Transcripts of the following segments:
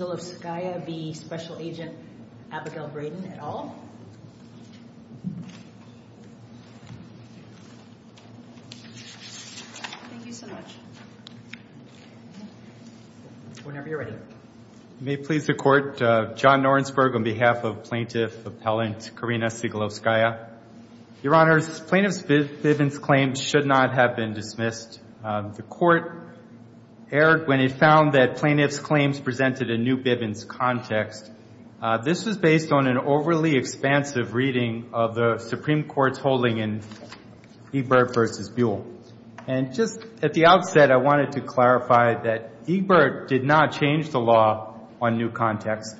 at all? Thank you so much. Whenever you're ready. May it please the Court, John Norensberg on behalf of Plaintiff Appellant Karina Sigalovskaya. Your Honors, Plaintiff Viven's claims should not have been dismissed. The Court erred when it found that Plaintiff's claims presented a new Bivens context. This was based on an overly expansive reading of the Supreme Court's holding in Ebert v. Buell. And just at the outset, I wanted to clarify that Ebert did not change the law on new context.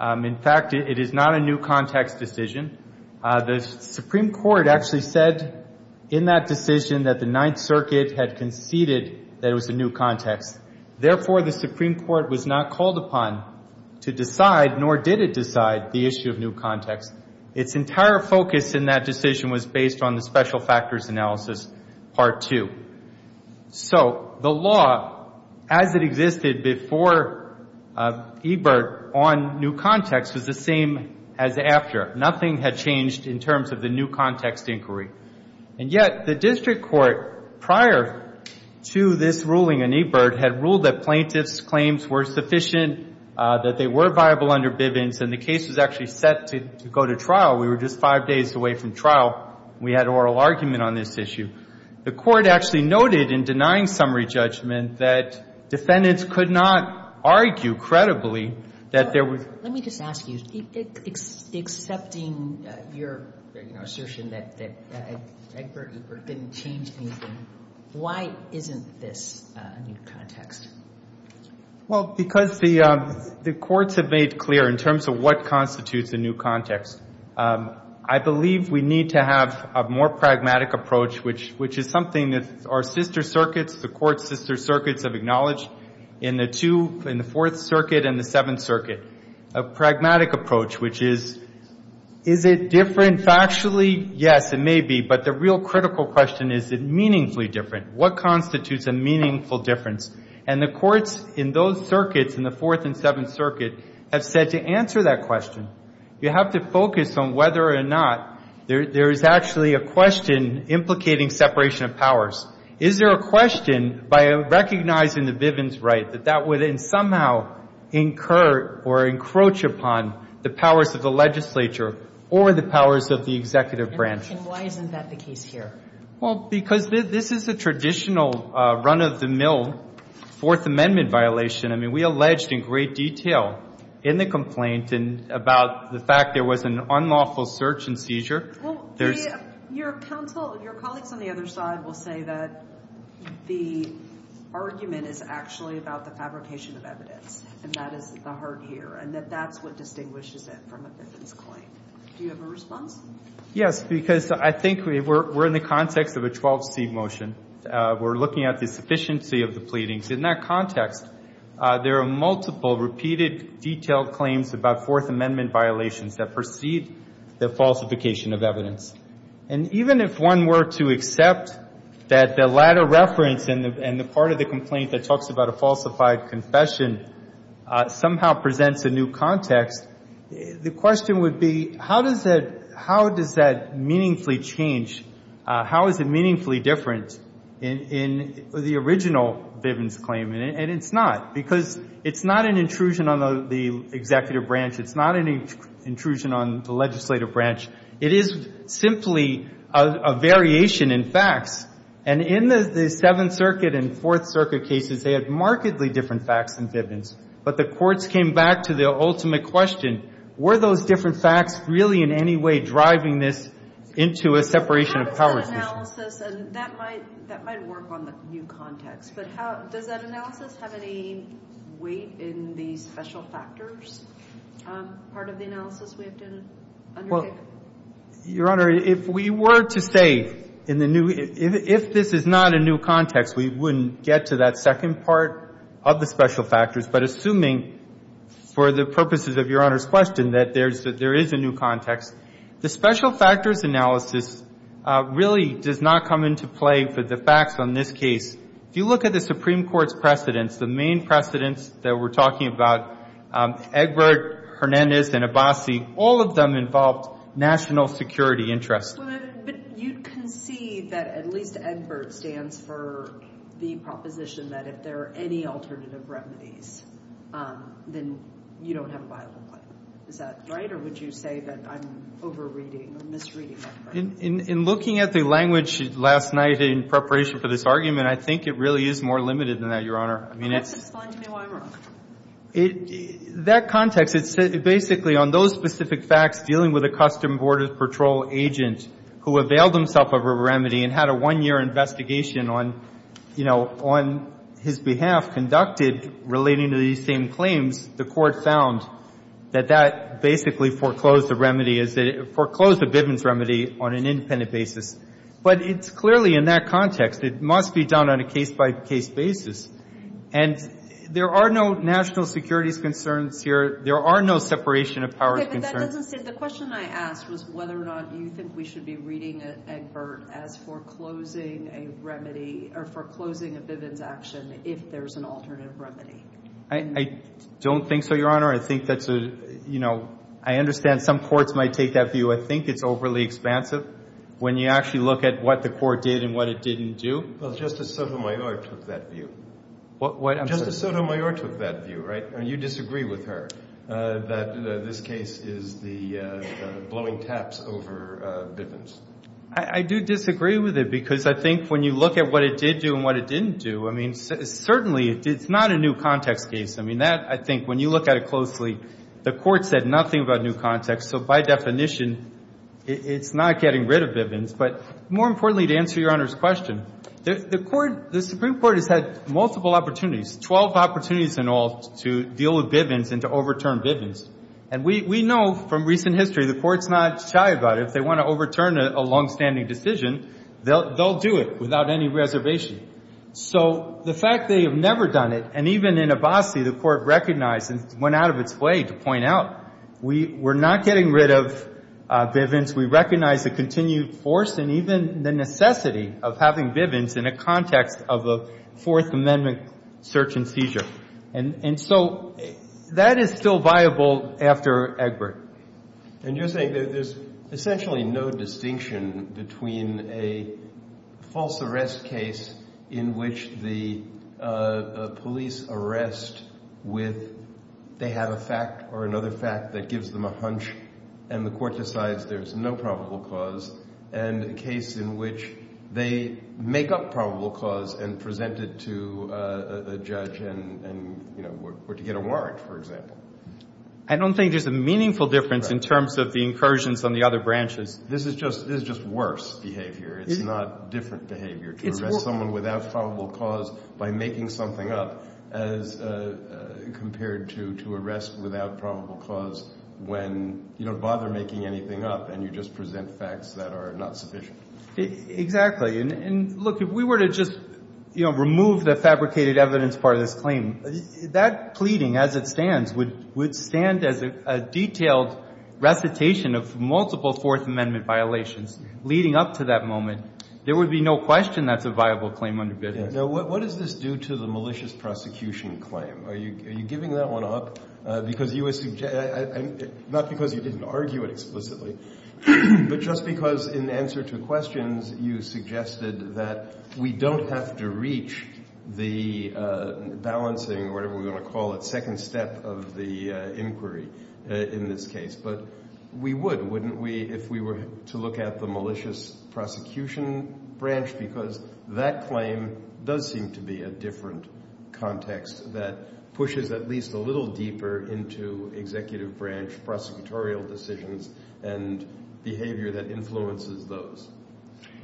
In fact, it is not a new context decision. The Supreme Court actually said in that decision that the Ninth Circuit had conceded that it was a new context. Therefore, the Supreme Court was not called upon to decide, nor did it decide, the issue of new context. Its entire focus in that decision was based on the special factors analysis, Part 2. So the law as it existed before Ebert on new context was the same as after. Nothing had changed in terms of the new context inquiry. And yet, the district court, prior to this ruling in Ebert, had ruled that Plaintiff's claims were sufficient, that they were viable under Bivens, and the case was actually set to go to trial. We were just five days away from trial. We had oral argument on this issue. The Court actually noted in denying summary judgment that defendants could not argue credibly that there was Let me just ask you, accepting your assertion that Egbert Ebert didn't change anything, why isn't this a new context? Well, because the courts have made clear, in terms of what constitutes a new context, I believe we need to have a more pragmatic approach, which is something that our sister circuits, the court's sister circuits, have acknowledged in the Fourth Circuit and the Seventh Circuit, a pragmatic approach, which is, is it different factually? Yes, it may be, but the real critical question is, is it meaningfully different? What constitutes a meaningful difference? And the courts in those circuits, in the Fourth and Seventh Circuit, have said to answer that question, you have to focus on whether or not there is actually a question implicating separation of powers. Is there a question, by recognizing the Vivian's right, that that would somehow incur or encroach upon the powers of the legislature or the powers of the executive branch? And why isn't that the case here? Well, because this is a traditional run-of-the-mill Fourth Amendment violation. I mean, we alleged in great detail in the complaint about the fact there was an unlawful search and seizure. Well, your counsel, your colleagues on the other side will say that the argument is actually about the fabrication of evidence, and that is at the heart here, and that that's what distinguishes it from a Vivian's claim. Do you have a response? Yes, because I think we're in the context of a 12C motion. We're looking at the sufficiency of the pleadings. In that context, there are multiple, repeated, detailed claims about Fourth Amendment violations that precede the falsification of evidence. And even if one were to accept that the latter reference and the part of the complaint that talks about a falsified confession somehow presents a new context, the question would be, how does that – how does that meaningfully change – how is it meaningfully different in the original Vivian's claim? And it's not, because it's not an intrusion on the executive branch. It's not an intrusion on the legislative branch. It is simply a variation in facts. And in the Seventh Circuit and Fourth Circuit cases, they had markedly different facts than Vivian's. But the courts came back to the ultimate question, were those different facts really in any way driving this into a separation of powers motion? How does that analysis – and that might work on the new context – but how – does that analysis have any weight in the special factors part of the analysis we have to undertake? Well, Your Honor, if we were to say in the new – if this is not a new context, we wouldn't get to that second part of the special factors. But assuming, for the purposes of Your Honor's question, that there is a new context, the special factors analysis really does not come into play for the facts on this case. If you look at the Supreme Court's precedents, the main precedents that we're talking about, Egbert, Hernandez, and Abbasi, all of them involved national security interests. But you concede that at least Egbert stands for the proposition that if there are any alternative remedies, then you don't have a violent claim. Is that right? Or would you say that I'm over-reading or misreading that premise? In looking at the language last night in preparation for this argument, I think it really is more limited than that, Your Honor. I mean, it's – Can you explain to me why I'm wrong? That context, it's basically on those specific facts dealing with a Customs Border Patrol agent who availed himself of a remedy and had a one-year investigation on, you know, on his behalf conducted relating to these same claims, the Court found that that basically foreclosed the remedy as it – foreclosed the Bivens remedy on an independent basis. But it's clearly in that context. It must be done on a case-by-case basis. And there are no national securities concerns here. There are no separation of powers concerns. But that doesn't say – the question I asked was whether or not you think we should be reading Egbert as foreclosing a remedy – or foreclosing a Bivens action if there's an alternative remedy. I don't think so, Your Honor. I think that's a – you know, I understand some courts might take that view. I think it's overly expansive when you actually look at what the Court did and what it didn't do. Well, Justice Sotomayor took that view. What? I'm sorry. Justice Sotomayor took that view, right? And you disagree with her that this case is the blowing taps over Bivens. I do disagree with it because I think when you look at what it did do and what it didn't do, I mean, certainly it's not a new context case. I mean, that – I think when you look at it closely, the Court said nothing about new context. So by definition, it's not getting rid of Bivens. But more importantly, to answer Your Honor's question, the Court – the Supreme Court has had multiple opportunities, 12 opportunities in all, to deal with Bivens and to overturn Bivens. And we know from recent history the Court's not shy about it. If they want to overturn a longstanding decision, they'll do it without any reservation. So the fact they have never done it, and even in Abbasi, the Court recognized and went out of its way to point out, we're not getting rid of Bivens. We recognize the continued force and even the necessity of having Bivens in a context of a Fourth Amendment search and seizure. And so that is still viable after Egbert. And you're saying that there's essentially no distinction between a false arrest case in which the police arrest with they have a fact or another fact that gives them a hunch and the Court decides there's no probable cause, and a case in which they make up probable cause and present it to a judge and, you know, were to get a warrant, for example. I don't think there's a meaningful difference in terms of the incursions on the other branches. This is just worse behavior. It's not different behavior to arrest someone without probable cause by making something up as compared to arrest without probable cause when you don't bother making anything up and you just present facts that are not sufficient. Exactly. And look, if we were to just, you know, remove the fabricated evidence part of this claim, that pleading as it stands would stand as a detailed recitation of multiple Fourth Amendment violations leading up to that moment. There would be no question that's a viable claim under Bivens. Now, what does this do to the malicious prosecution claim? Are you giving that one up because you were not because you didn't argue it explicitly, but just because in answer to questions you suggested that we don't have to reach the balancing, whatever we're going to call it, second step of the inquiry in this case. But we would, wouldn't we, if we were to look at the malicious prosecution branch because that claim does seem to be a different context that pushes at least a little deeper into executive branch prosecutorial decisions and behavior that influences those.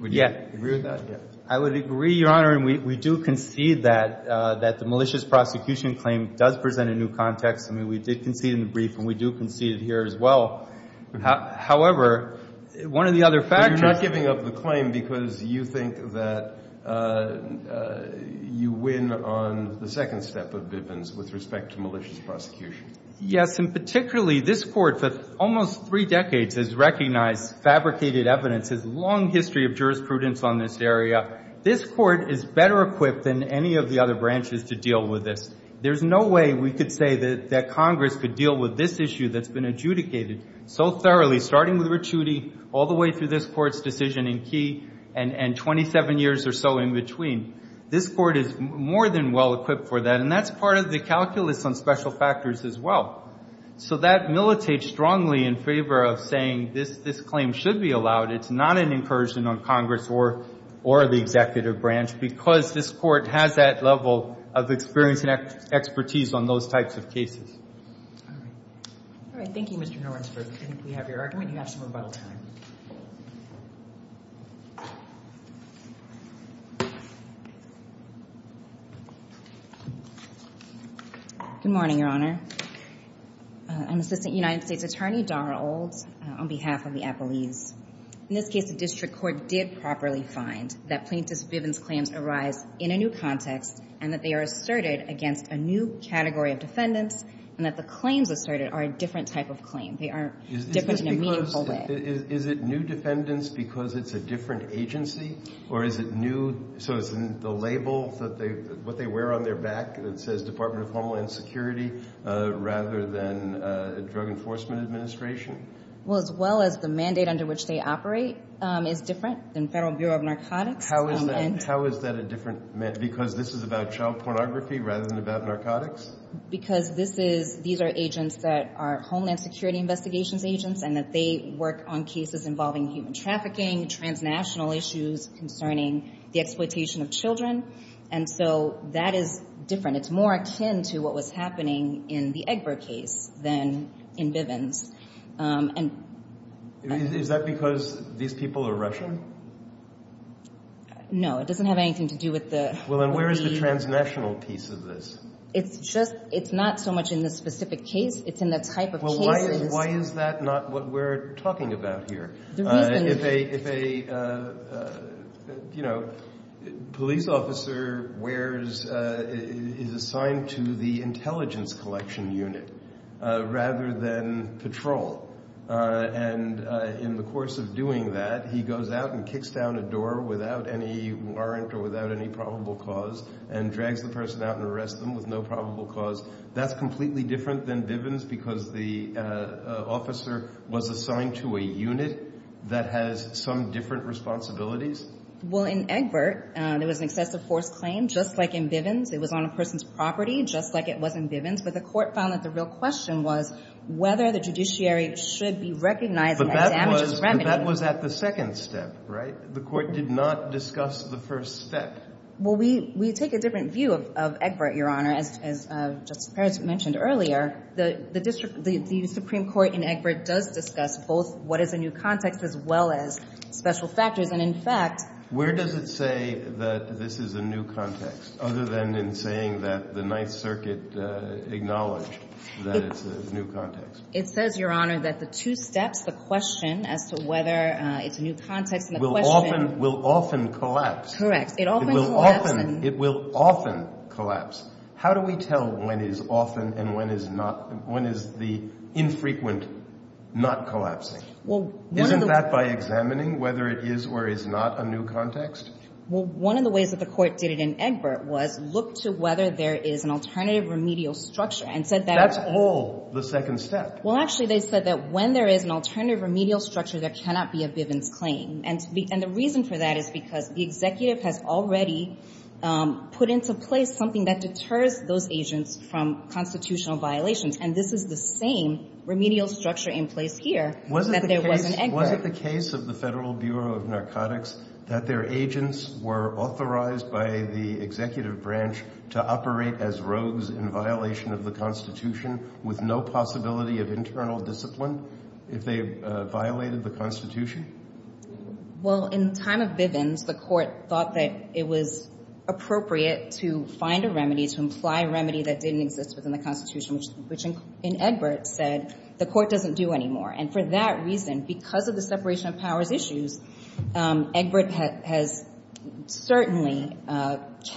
Would you agree with that? Yes. I would agree, Your Honor, and we do concede that the malicious prosecution claim does present a new context. I mean, we did concede in the brief and we do concede here as well. However, one of the other factors— But you're not giving up the claim because you think that you win on the second step of Bivens with respect to malicious prosecution. Yes. And particularly, this Court for almost three decades has recognized, fabricated evidence, has a long history of jurisprudence on this area. This Court is better equipped than any of the other branches to deal with this. There's no way we could say that Congress could deal with this issue that's been adjudicated so thoroughly, starting with Ricciuti all the way through this Court's decision in Key and 27 years or so in between. This Court is more than well equipped for that, and that's part of the calculus on special factors as well. So that militates strongly in favor of saying this claim should be allowed. It's not an incursion on Congress or the executive branch, because this Court has that level of experience and expertise on those types of cases. All right. All right. Thank you, Mr. Norensberg. I think we have your argument. You have some rebuttal time. Good morning, Your Honor. I'm Assistant United States Attorney Dara Olds on behalf of the appellees. In this case, the district court did properly find that plaintiffs' Bivens claims arise in a new context and that they are asserted against a new category of defendants and that the claims asserted are a different type of claim. They are different in a meaningful way. Is it new defendants because it's a different agency, or is it new, so it's the label that they, what they wear on their back that says Department of Homeland Security rather than Drug Enforcement Administration? Well, as well as the mandate under which they operate is different than Federal Bureau of Narcotics. How is that? How is that a different, because this is about child pornography rather than about narcotics? Because this is, these are agents that are Homeland Security Investigations agents and that they work on cases involving human trafficking, transnational issues concerning the exploitation of children, and so that is different. It's more akin to what was happening in the Egbert case than in Bivens. Is that because these people are Russian? No, it doesn't have anything to do with the... Well, then where is the transnational piece of this? It's just, it's not so much in this specific case. It's in the type of cases... Why is that not what we're talking about here? If a, if a, you know, police officer wears, is assigned to the intelligence collection unit rather than patrol, and in the course of doing that he goes out and kicks down a door without any warrant or without any probable cause and drags the person out and arrests them with no probable cause, that's completely different than Bivens because the officer was assigned to a unit that has some different responsibilities? Well, in Egbert, there was an excessive force claim just like in Bivens. It was on a person's property just like it was in Bivens, but the court found that the real question was whether the judiciary should be recognizing that damage is remedied... But that was at the second step, right? The court did not discuss the first step. Well, we take a different view of Egbert, Your Honor. As Justice Perez mentioned earlier, the district, the Supreme Court in Egbert does discuss both what is a new context as well as special factors, and in fact... Where does it say that this is a new context other than in saying that the Ninth Circuit acknowledged that it's a new context? It says, Your Honor, that the two steps, the question as to whether it's a new context and the question... Will often collapse. Correct. It often collapses. It will often collapse. How do we tell when is often and when is not? When is the infrequent not collapsing? Isn't that by examining whether it is or is not a new context? Well, one of the ways that the court did it in Egbert was look to whether there is an alternative remedial structure and said that... That's all the second step. Well, actually, they said that when there is an alternative remedial structure, there cannot be a Bivens claim. And the reason for that is because the executive has already put into place something that deters those agents from constitutional violations. And this is the same remedial structure in place here that there was in Was it the case of the Federal Bureau of Narcotics that their agents were authorized by the executive branch to operate as rogues in violation of the Constitution with no possibility of internal discipline if they violated the Constitution? Well, in time of Bivens, the court thought that it was appropriate to find a remedy to imply a remedy that didn't exist within the Constitution, which in Egbert said the court doesn't do anymore. And for that reason, because of the separation of powers issues, Egbert has certainly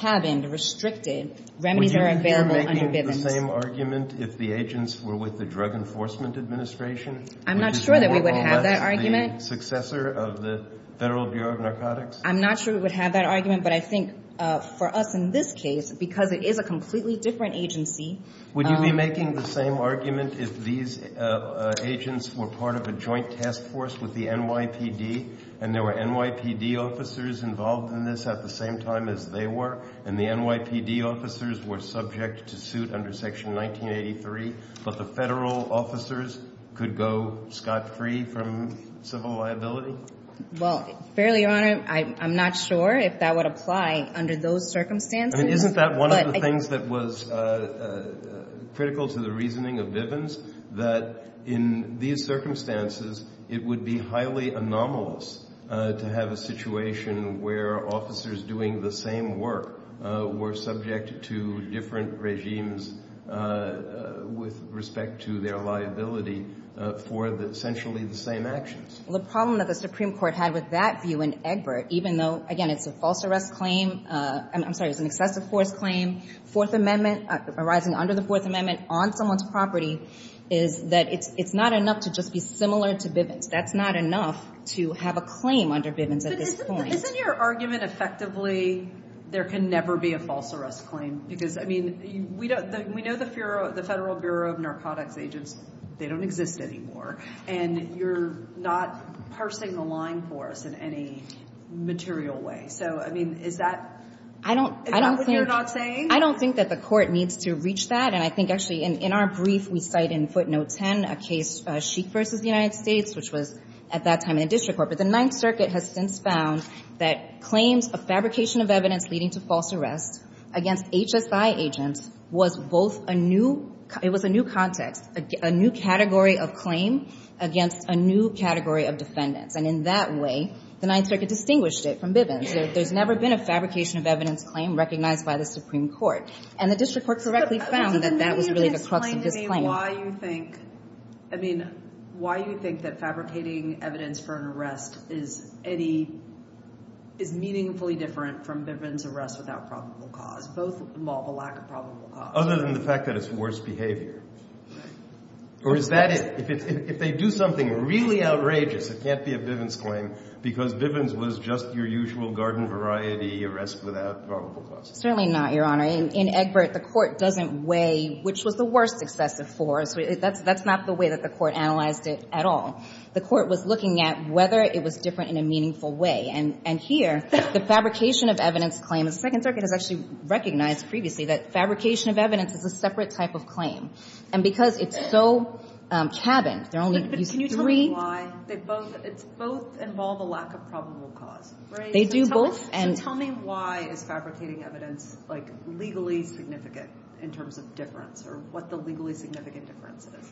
cabined, restricted remedies that are available under Bivens. Would you be making the same argument if the agents were with the Drug Enforcement Administration? I'm not sure that we would have that argument. The successor of the Federal Bureau of Narcotics? I'm not sure we would have that argument. But I think for us in this case, because it is a completely different agency... Would you be making the same argument if these agents were part of a joint task force with the NYPD and there were NYPD officers involved in this at the same time as they were, and the NYPD officers were subject to suit under Section 1983, but the federal officers could go scot-free from civil liability? Well, fairly, Your Honor, I'm not sure if that would apply under those circumstances. I mean, isn't that one of the things that was critical to the reasoning of Bivens, that in these circumstances, it would be highly anomalous to have a situation where officers doing the same work were subject to different regimes with respect to their liability for essentially the same actions? The problem that the Supreme Court had with that view in Egbert, even though, again, it's a false arrest claim, I'm sorry, it's an excessive force claim, Fourth Amendment arising under the Fourth Amendment on someone's property, is that it's not enough to just be similar to Bivens. That's not enough to have a claim under Bivens at this point. Isn't your argument, effectively, there can never be a false arrest claim? Because, I mean, we know the Federal Bureau of Narcotics Agents, they don't exist anymore, and you're not parsing the line for us in any material way. So, I mean, is that what you're not saying? I don't think that the Court needs to reach that, and I think, actually, in our brief, we cite in footnote 10 a case, Sheik v. United States, which was at that time in the District Court, but the Ninth Circuit has since found that claims of fabrication of evidence leading to false arrest against HSI agents was both a new, it was a new context, a new category of claim against a new category of defendants, and in that way, the Ninth Circuit distinguished it from Bivens. There's never been a fabrication of evidence claim recognized by the Supreme Court, and the District Court correctly found that that was really the crux of this claim. Why do you think, I mean, why do you think that fabricating evidence for an arrest is any, is meaningfully different from Bivens' arrest without probable cause? Both involve a lack of probable cause. Other than the fact that it's worse behavior. Or is that it? If they do something really outrageous, it can't be a Bivens claim, because Bivens was just your usual garden variety arrest without probable cause. Certainly not, Your Honor. In Egbert, the Court doesn't weigh which was the worst excessive for, so that's not the way that the Court analyzed it at all. The Court was looking at whether it was different in a meaningful way. And here, the fabrication of evidence claim, the Second Circuit has actually recognized previously that fabrication of evidence is a separate type of claim. And because it's so cabined, there are only these three. But can you tell me why they both, it's both involve a lack of probable cause, right? They do both. So tell me why is fabricating evidence, like, legally significant in terms of difference, or what the legally significant difference is?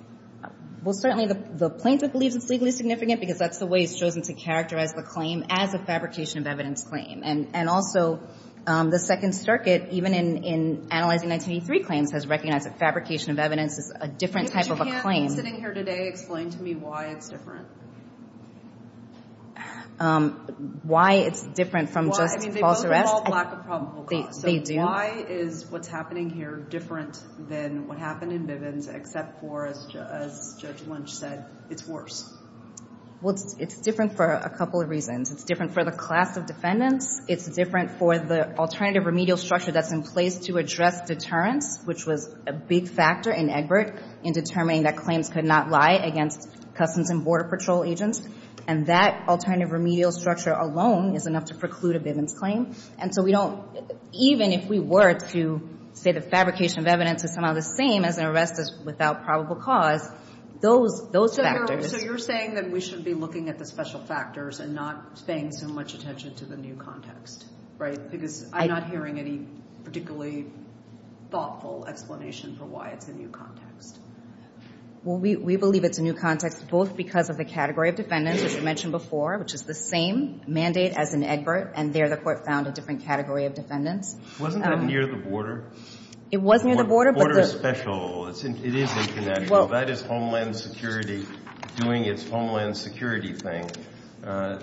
Well, certainly, the plaintiff believes it's legally significant, because that's the way he's chosen to characterize the claim as a fabrication of evidence claim. And also, the Second Circuit, even in analyzing 1983 claims, has recognized that fabrication of evidence is a different type of a claim. But you can't, sitting here today, explain to me why it's different? Why it's different from just false arrest? Well, I mean, they both involve lack of probable cause. They do. Why is what's happening here different than what happened in Bivens, except for, as Judge Lynch said, it's worse? Well, it's different for a couple of reasons. It's different for the class of defendants. It's different for the alternative remedial structure that's in place to address deterrence, which was a big factor in Egbert in determining that claims could not lie against Customs and Border Patrol agents. And that alternative remedial structure alone is enough to preclude a Bivens claim. And so we don't, even if we were to say the fabrication of evidence is somehow the same as an arrest without probable cause, those factors... So you're saying that we should be looking at the special factors and not paying so much attention to the new context, right? Because I'm not hearing any particularly thoughtful explanation for why it's a new context. Well, we believe it's a new context, both because of the category of defendants, as you mentioned before, which is the same mandate as in Egbert. And there the Court found a different category of defendants. Wasn't that near the border? It was near the border, but the... The border is special. It is international. That is Homeland Security doing its Homeland Security thing, right?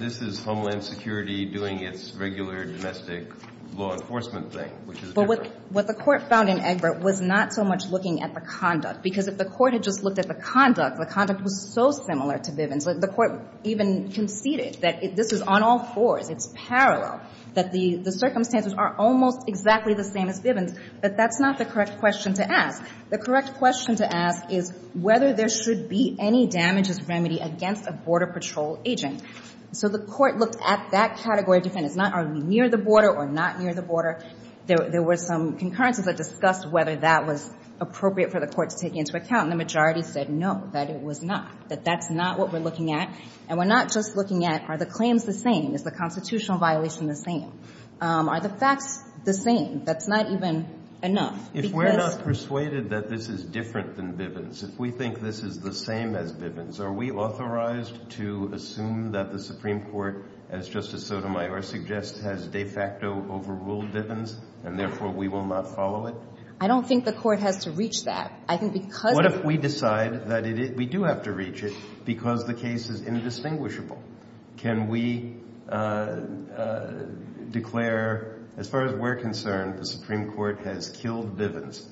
This is Homeland Security doing its regular domestic law enforcement thing, which is different. But what the Court found in Egbert was not so much looking at the conduct, because if the Court had just looked at the conduct, the conduct was so similar to Bivens. The Court even conceded that this is on all fours. It's parallel, that the circumstances are almost exactly the same as Bivens. But that's not the correct question to ask. The correct question to ask is whether there should be any damages remedy against a Border Patrol agent. So the Court looked at that category of defendants, not are they near the border or not near the border. There were some concurrences that discussed whether that was appropriate for the Court to take into account, and the majority said no, that it was not, that that's not what we're looking at. And we're not just looking at are the claims the same? Is the constitutional violation the same? Are the facts the same? That's not even enough, because... If we're not persuaded that this is different than Bivens, if we think this is the same as Bivens, are we authorized to assume that the Supreme Court, as Justice Sotomayor suggests, has de facto overruled Bivens, and therefore we will not follow it? I don't think the Court has to reach that. I think because... What if we decide that we do have to reach it because the case is indistinguishable? Can we declare, as far as we're concerned, the Supreme Court has killed Bivens?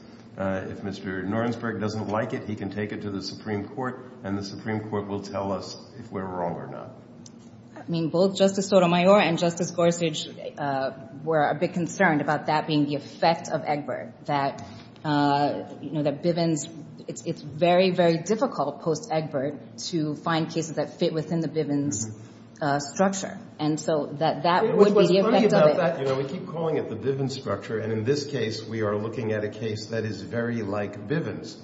If Mr. Norensberg doesn't like it, he can take it to the Supreme Court, and the Supreme Court will tell us if we're wrong or not. I mean, both Justice Sotomayor and Justice Gorsuch were a bit concerned about that being the effect of Egbert, that Bivens... It's very, very difficult post-Egbert to find cases that fit within the Bivens structure, and so that would be the effect of it. It was funny about that. We keep calling it the Bivens structure, and in this case, we are looking at a case that is very like Bivens.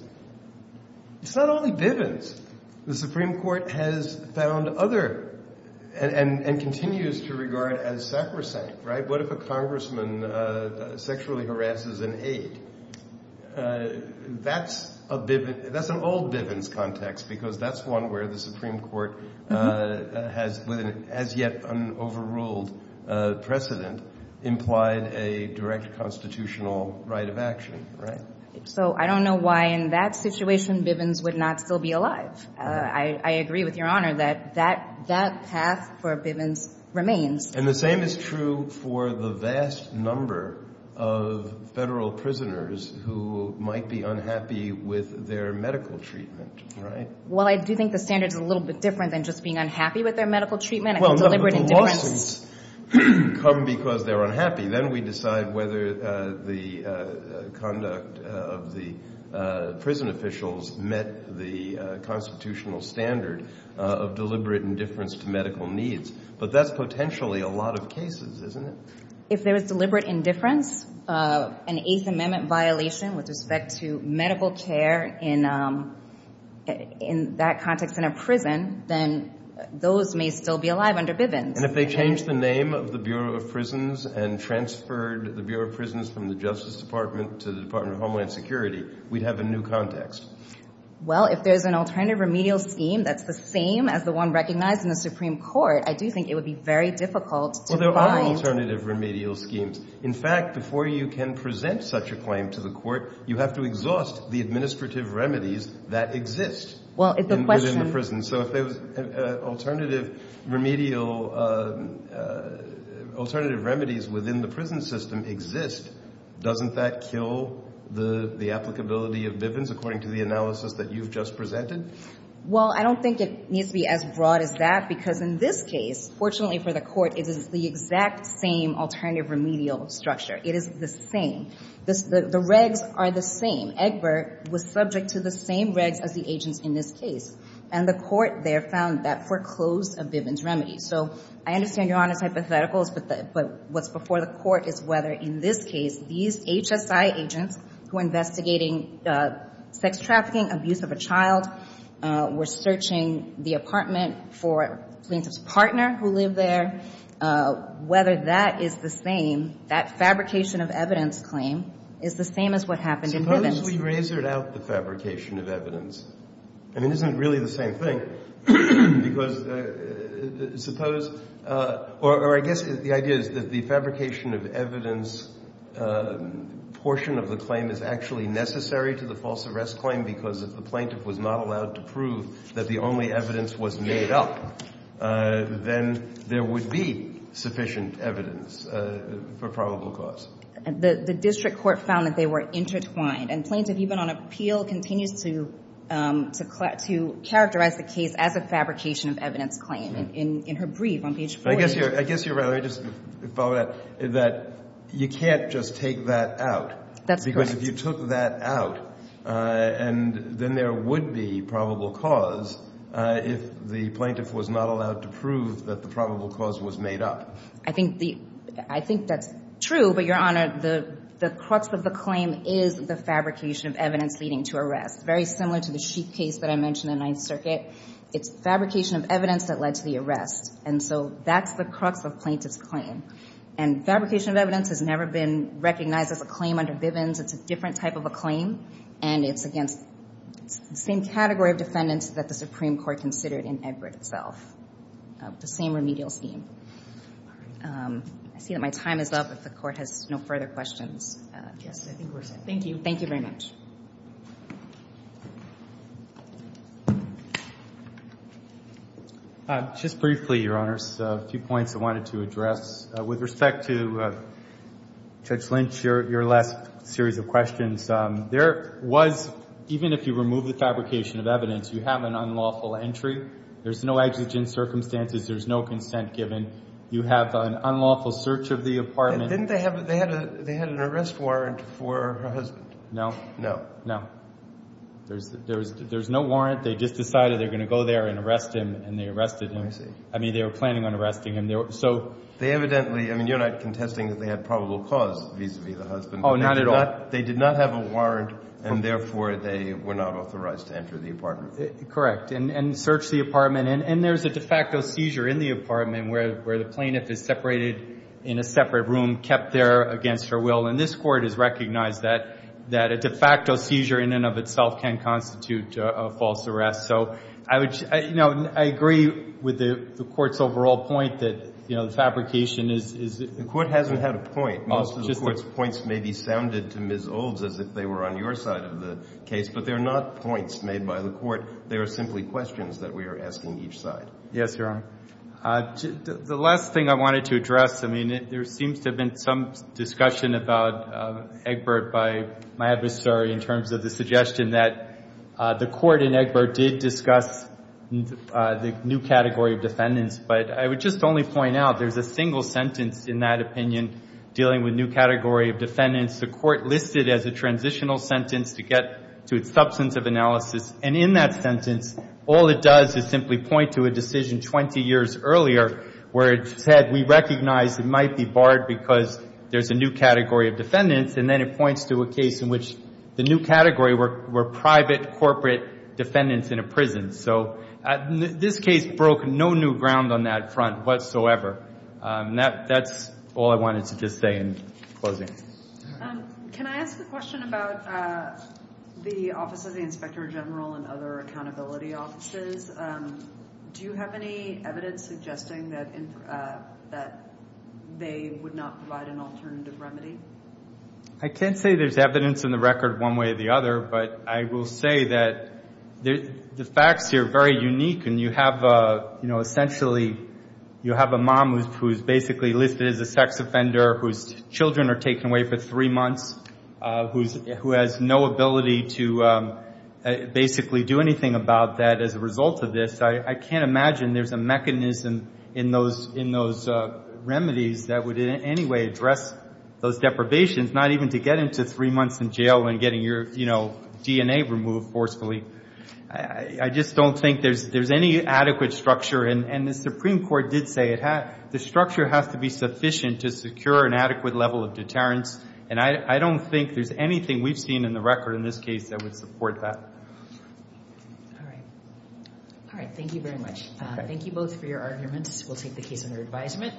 It's not only Bivens. The Supreme Court has found other, and continues to regard as sacrosanct, right? If a congressman sexually harasses an aide, that's an old Bivens context because that's one where the Supreme Court, with an as-yet-unoverruled precedent, implied a direct constitutional right of action, right? So I don't know why, in that situation, Bivens would not still be alive. I agree with Your Honor that that path for Bivens remains. And the same is true for the vast number of federal prisoners who might be unhappy with their medical treatment, right? Well, I do think the standard's a little bit different than just being unhappy with their medical treatment. Well, no, but the lawsuits come because they're unhappy. Then we decide whether the conduct of the prison officials met the constitutional standard of deliberate indifference to medical needs. But that's potentially a lot of cases, isn't it? If there was deliberate indifference, an Eighth Amendment violation with respect to medical care in that context in a prison, then those may still be alive under Bivens. And if they changed the name of the Bureau of Prisons and transferred the Bureau of Prisons from the Justice Department to the Department of Homeland Security, we'd have a new context. Well, if there's an alternative remedial scheme that's the same as the one recognized in the Supreme Court, I do think it would be very difficult to find— Well, there are alternative remedial schemes. In fact, before you can present such a claim to the court, you have to exhaust the administrative remedies that exist within the prison. So if there's alternative remedial—alternative remedies within the prison system exist, doesn't that kill the applicability of Bivens, according to the analysis that you've just presented? Well, I don't think it needs to be as broad as that, because in this case, fortunately for the court, it is the exact same alternative remedial structure. It is the same. The regs are the same. Egbert was subject to the same regs as the agents in this case. And the court there found that foreclosed a Bivens remedy. So I understand Your Honor's hypotheticals, but what's before the court is whether in this case these HSI agents who are investigating sex trafficking, abuse of a child, were searching the apartment for the plaintiff's partner who lived there, whether that is the same, that fabrication of evidence claim is the same as what happened in Bivens. Suppose we razored out the fabrication of evidence. I mean, isn't it really the same thing? Because suppose—or I guess the idea is that the fabrication of evidence portion of the claim is actually necessary to the false arrest claim because if the the only evidence was made up, then there would be sufficient evidence for probable cause. The district court found that they were intertwined. And Plaintiff, even on appeal, continues to characterize the case as a fabrication of evidence claim. And in her brief on page 40— I guess you're right. Let me just follow that. That you can't just take that out. That's correct. If you took that out, then there would be probable cause if the plaintiff was not allowed to prove that the probable cause was made up. I think that's true, but, Your Honor, the crux of the claim is the fabrication of evidence leading to arrest, very similar to the Sheik case that I mentioned in Ninth Circuit. It's fabrication of evidence that led to the arrest. And so that's the crux of plaintiff's claim. And fabrication of evidence has never been recognized as a claim under Bivens. It's a different type of a claim. And it's against the same category of defendants that the Supreme Court considered in Egbert itself, the same remedial scheme. I see that my time is up if the Court has no further questions. Yes, I think we're set. Thank you. Thank you very much. Just briefly, Your Honors, a few points I wanted to address. With respect to Judge Lynch, your last series of questions, there was, even if you remove the fabrication of evidence, you have an unlawful entry. There's no exigent circumstances. There's no consent given. You have an unlawful search of the apartment. Didn't they have an arrest warrant for her husband? No. No. No. There's no warrant. They just decided they're going to go there and arrest him, and they arrested him. I see. I mean, they were planning on arresting him. They evidently, I mean, you're not contesting that they had probable cause vis-a-vis the husband. Oh, not at all. They did not have a warrant, and therefore, they were not authorized to enter the apartment. Correct. And search the apartment. And there's a de facto seizure in the apartment where the plaintiff is separated in a separate room, kept there against her will. And this Court has recognized that a de facto seizure in and of itself can constitute a false arrest. So I agree with the Court's overall point that the fabrication is— The Court hasn't had a point. Most of the Court's points may be sounded to Ms. Olds as if they were on your side of the case, but they're not points made by the Court. They are simply questions that we are asking each side. Yes, Your Honor. The last thing I wanted to address, I mean, there seems to have been some discussion about Egbert by my adversary in terms of the suggestion that the Court in Egbert did discuss the new category of defendants. But I would just only point out there's a single sentence in that opinion dealing with new category of defendants. The Court listed as a transitional sentence to get to its substance of analysis. And in that sentence, all it does is simply point to a decision 20 years earlier where it said we recognize it might be barred because there's a new category of defendants, and then it points to a case in which the new category were private corporate defendants in a prison. So this case broke no new ground on that front whatsoever. That's all I wanted to just say in closing. Can I ask a question about the Office of the Inspector General and other accountability offices? Do you have any evidence suggesting that they would not provide an alternative remedy? I can't say there's evidence in the record one way or the other, but I will say that the facts here are very unique. And you have, you know, essentially, you have a mom who's basically listed as a sex offender whose children are taken away for three months, who has no ability to basically do anything about that as a result of this. I can't imagine there's a mechanism in those remedies that would in any way address those deprivations, not even to get into three months in jail and getting your, you know, DNA removed forcefully. I just don't think there's any adequate structure. And the Supreme Court did say the structure has to be sufficient to secure an adequate level of deterrence. And I don't think there's anything we've seen in the record in this case that would support that. All right. All right. Thank you very much. Thank you both for your arguments. We'll take the case under advisement.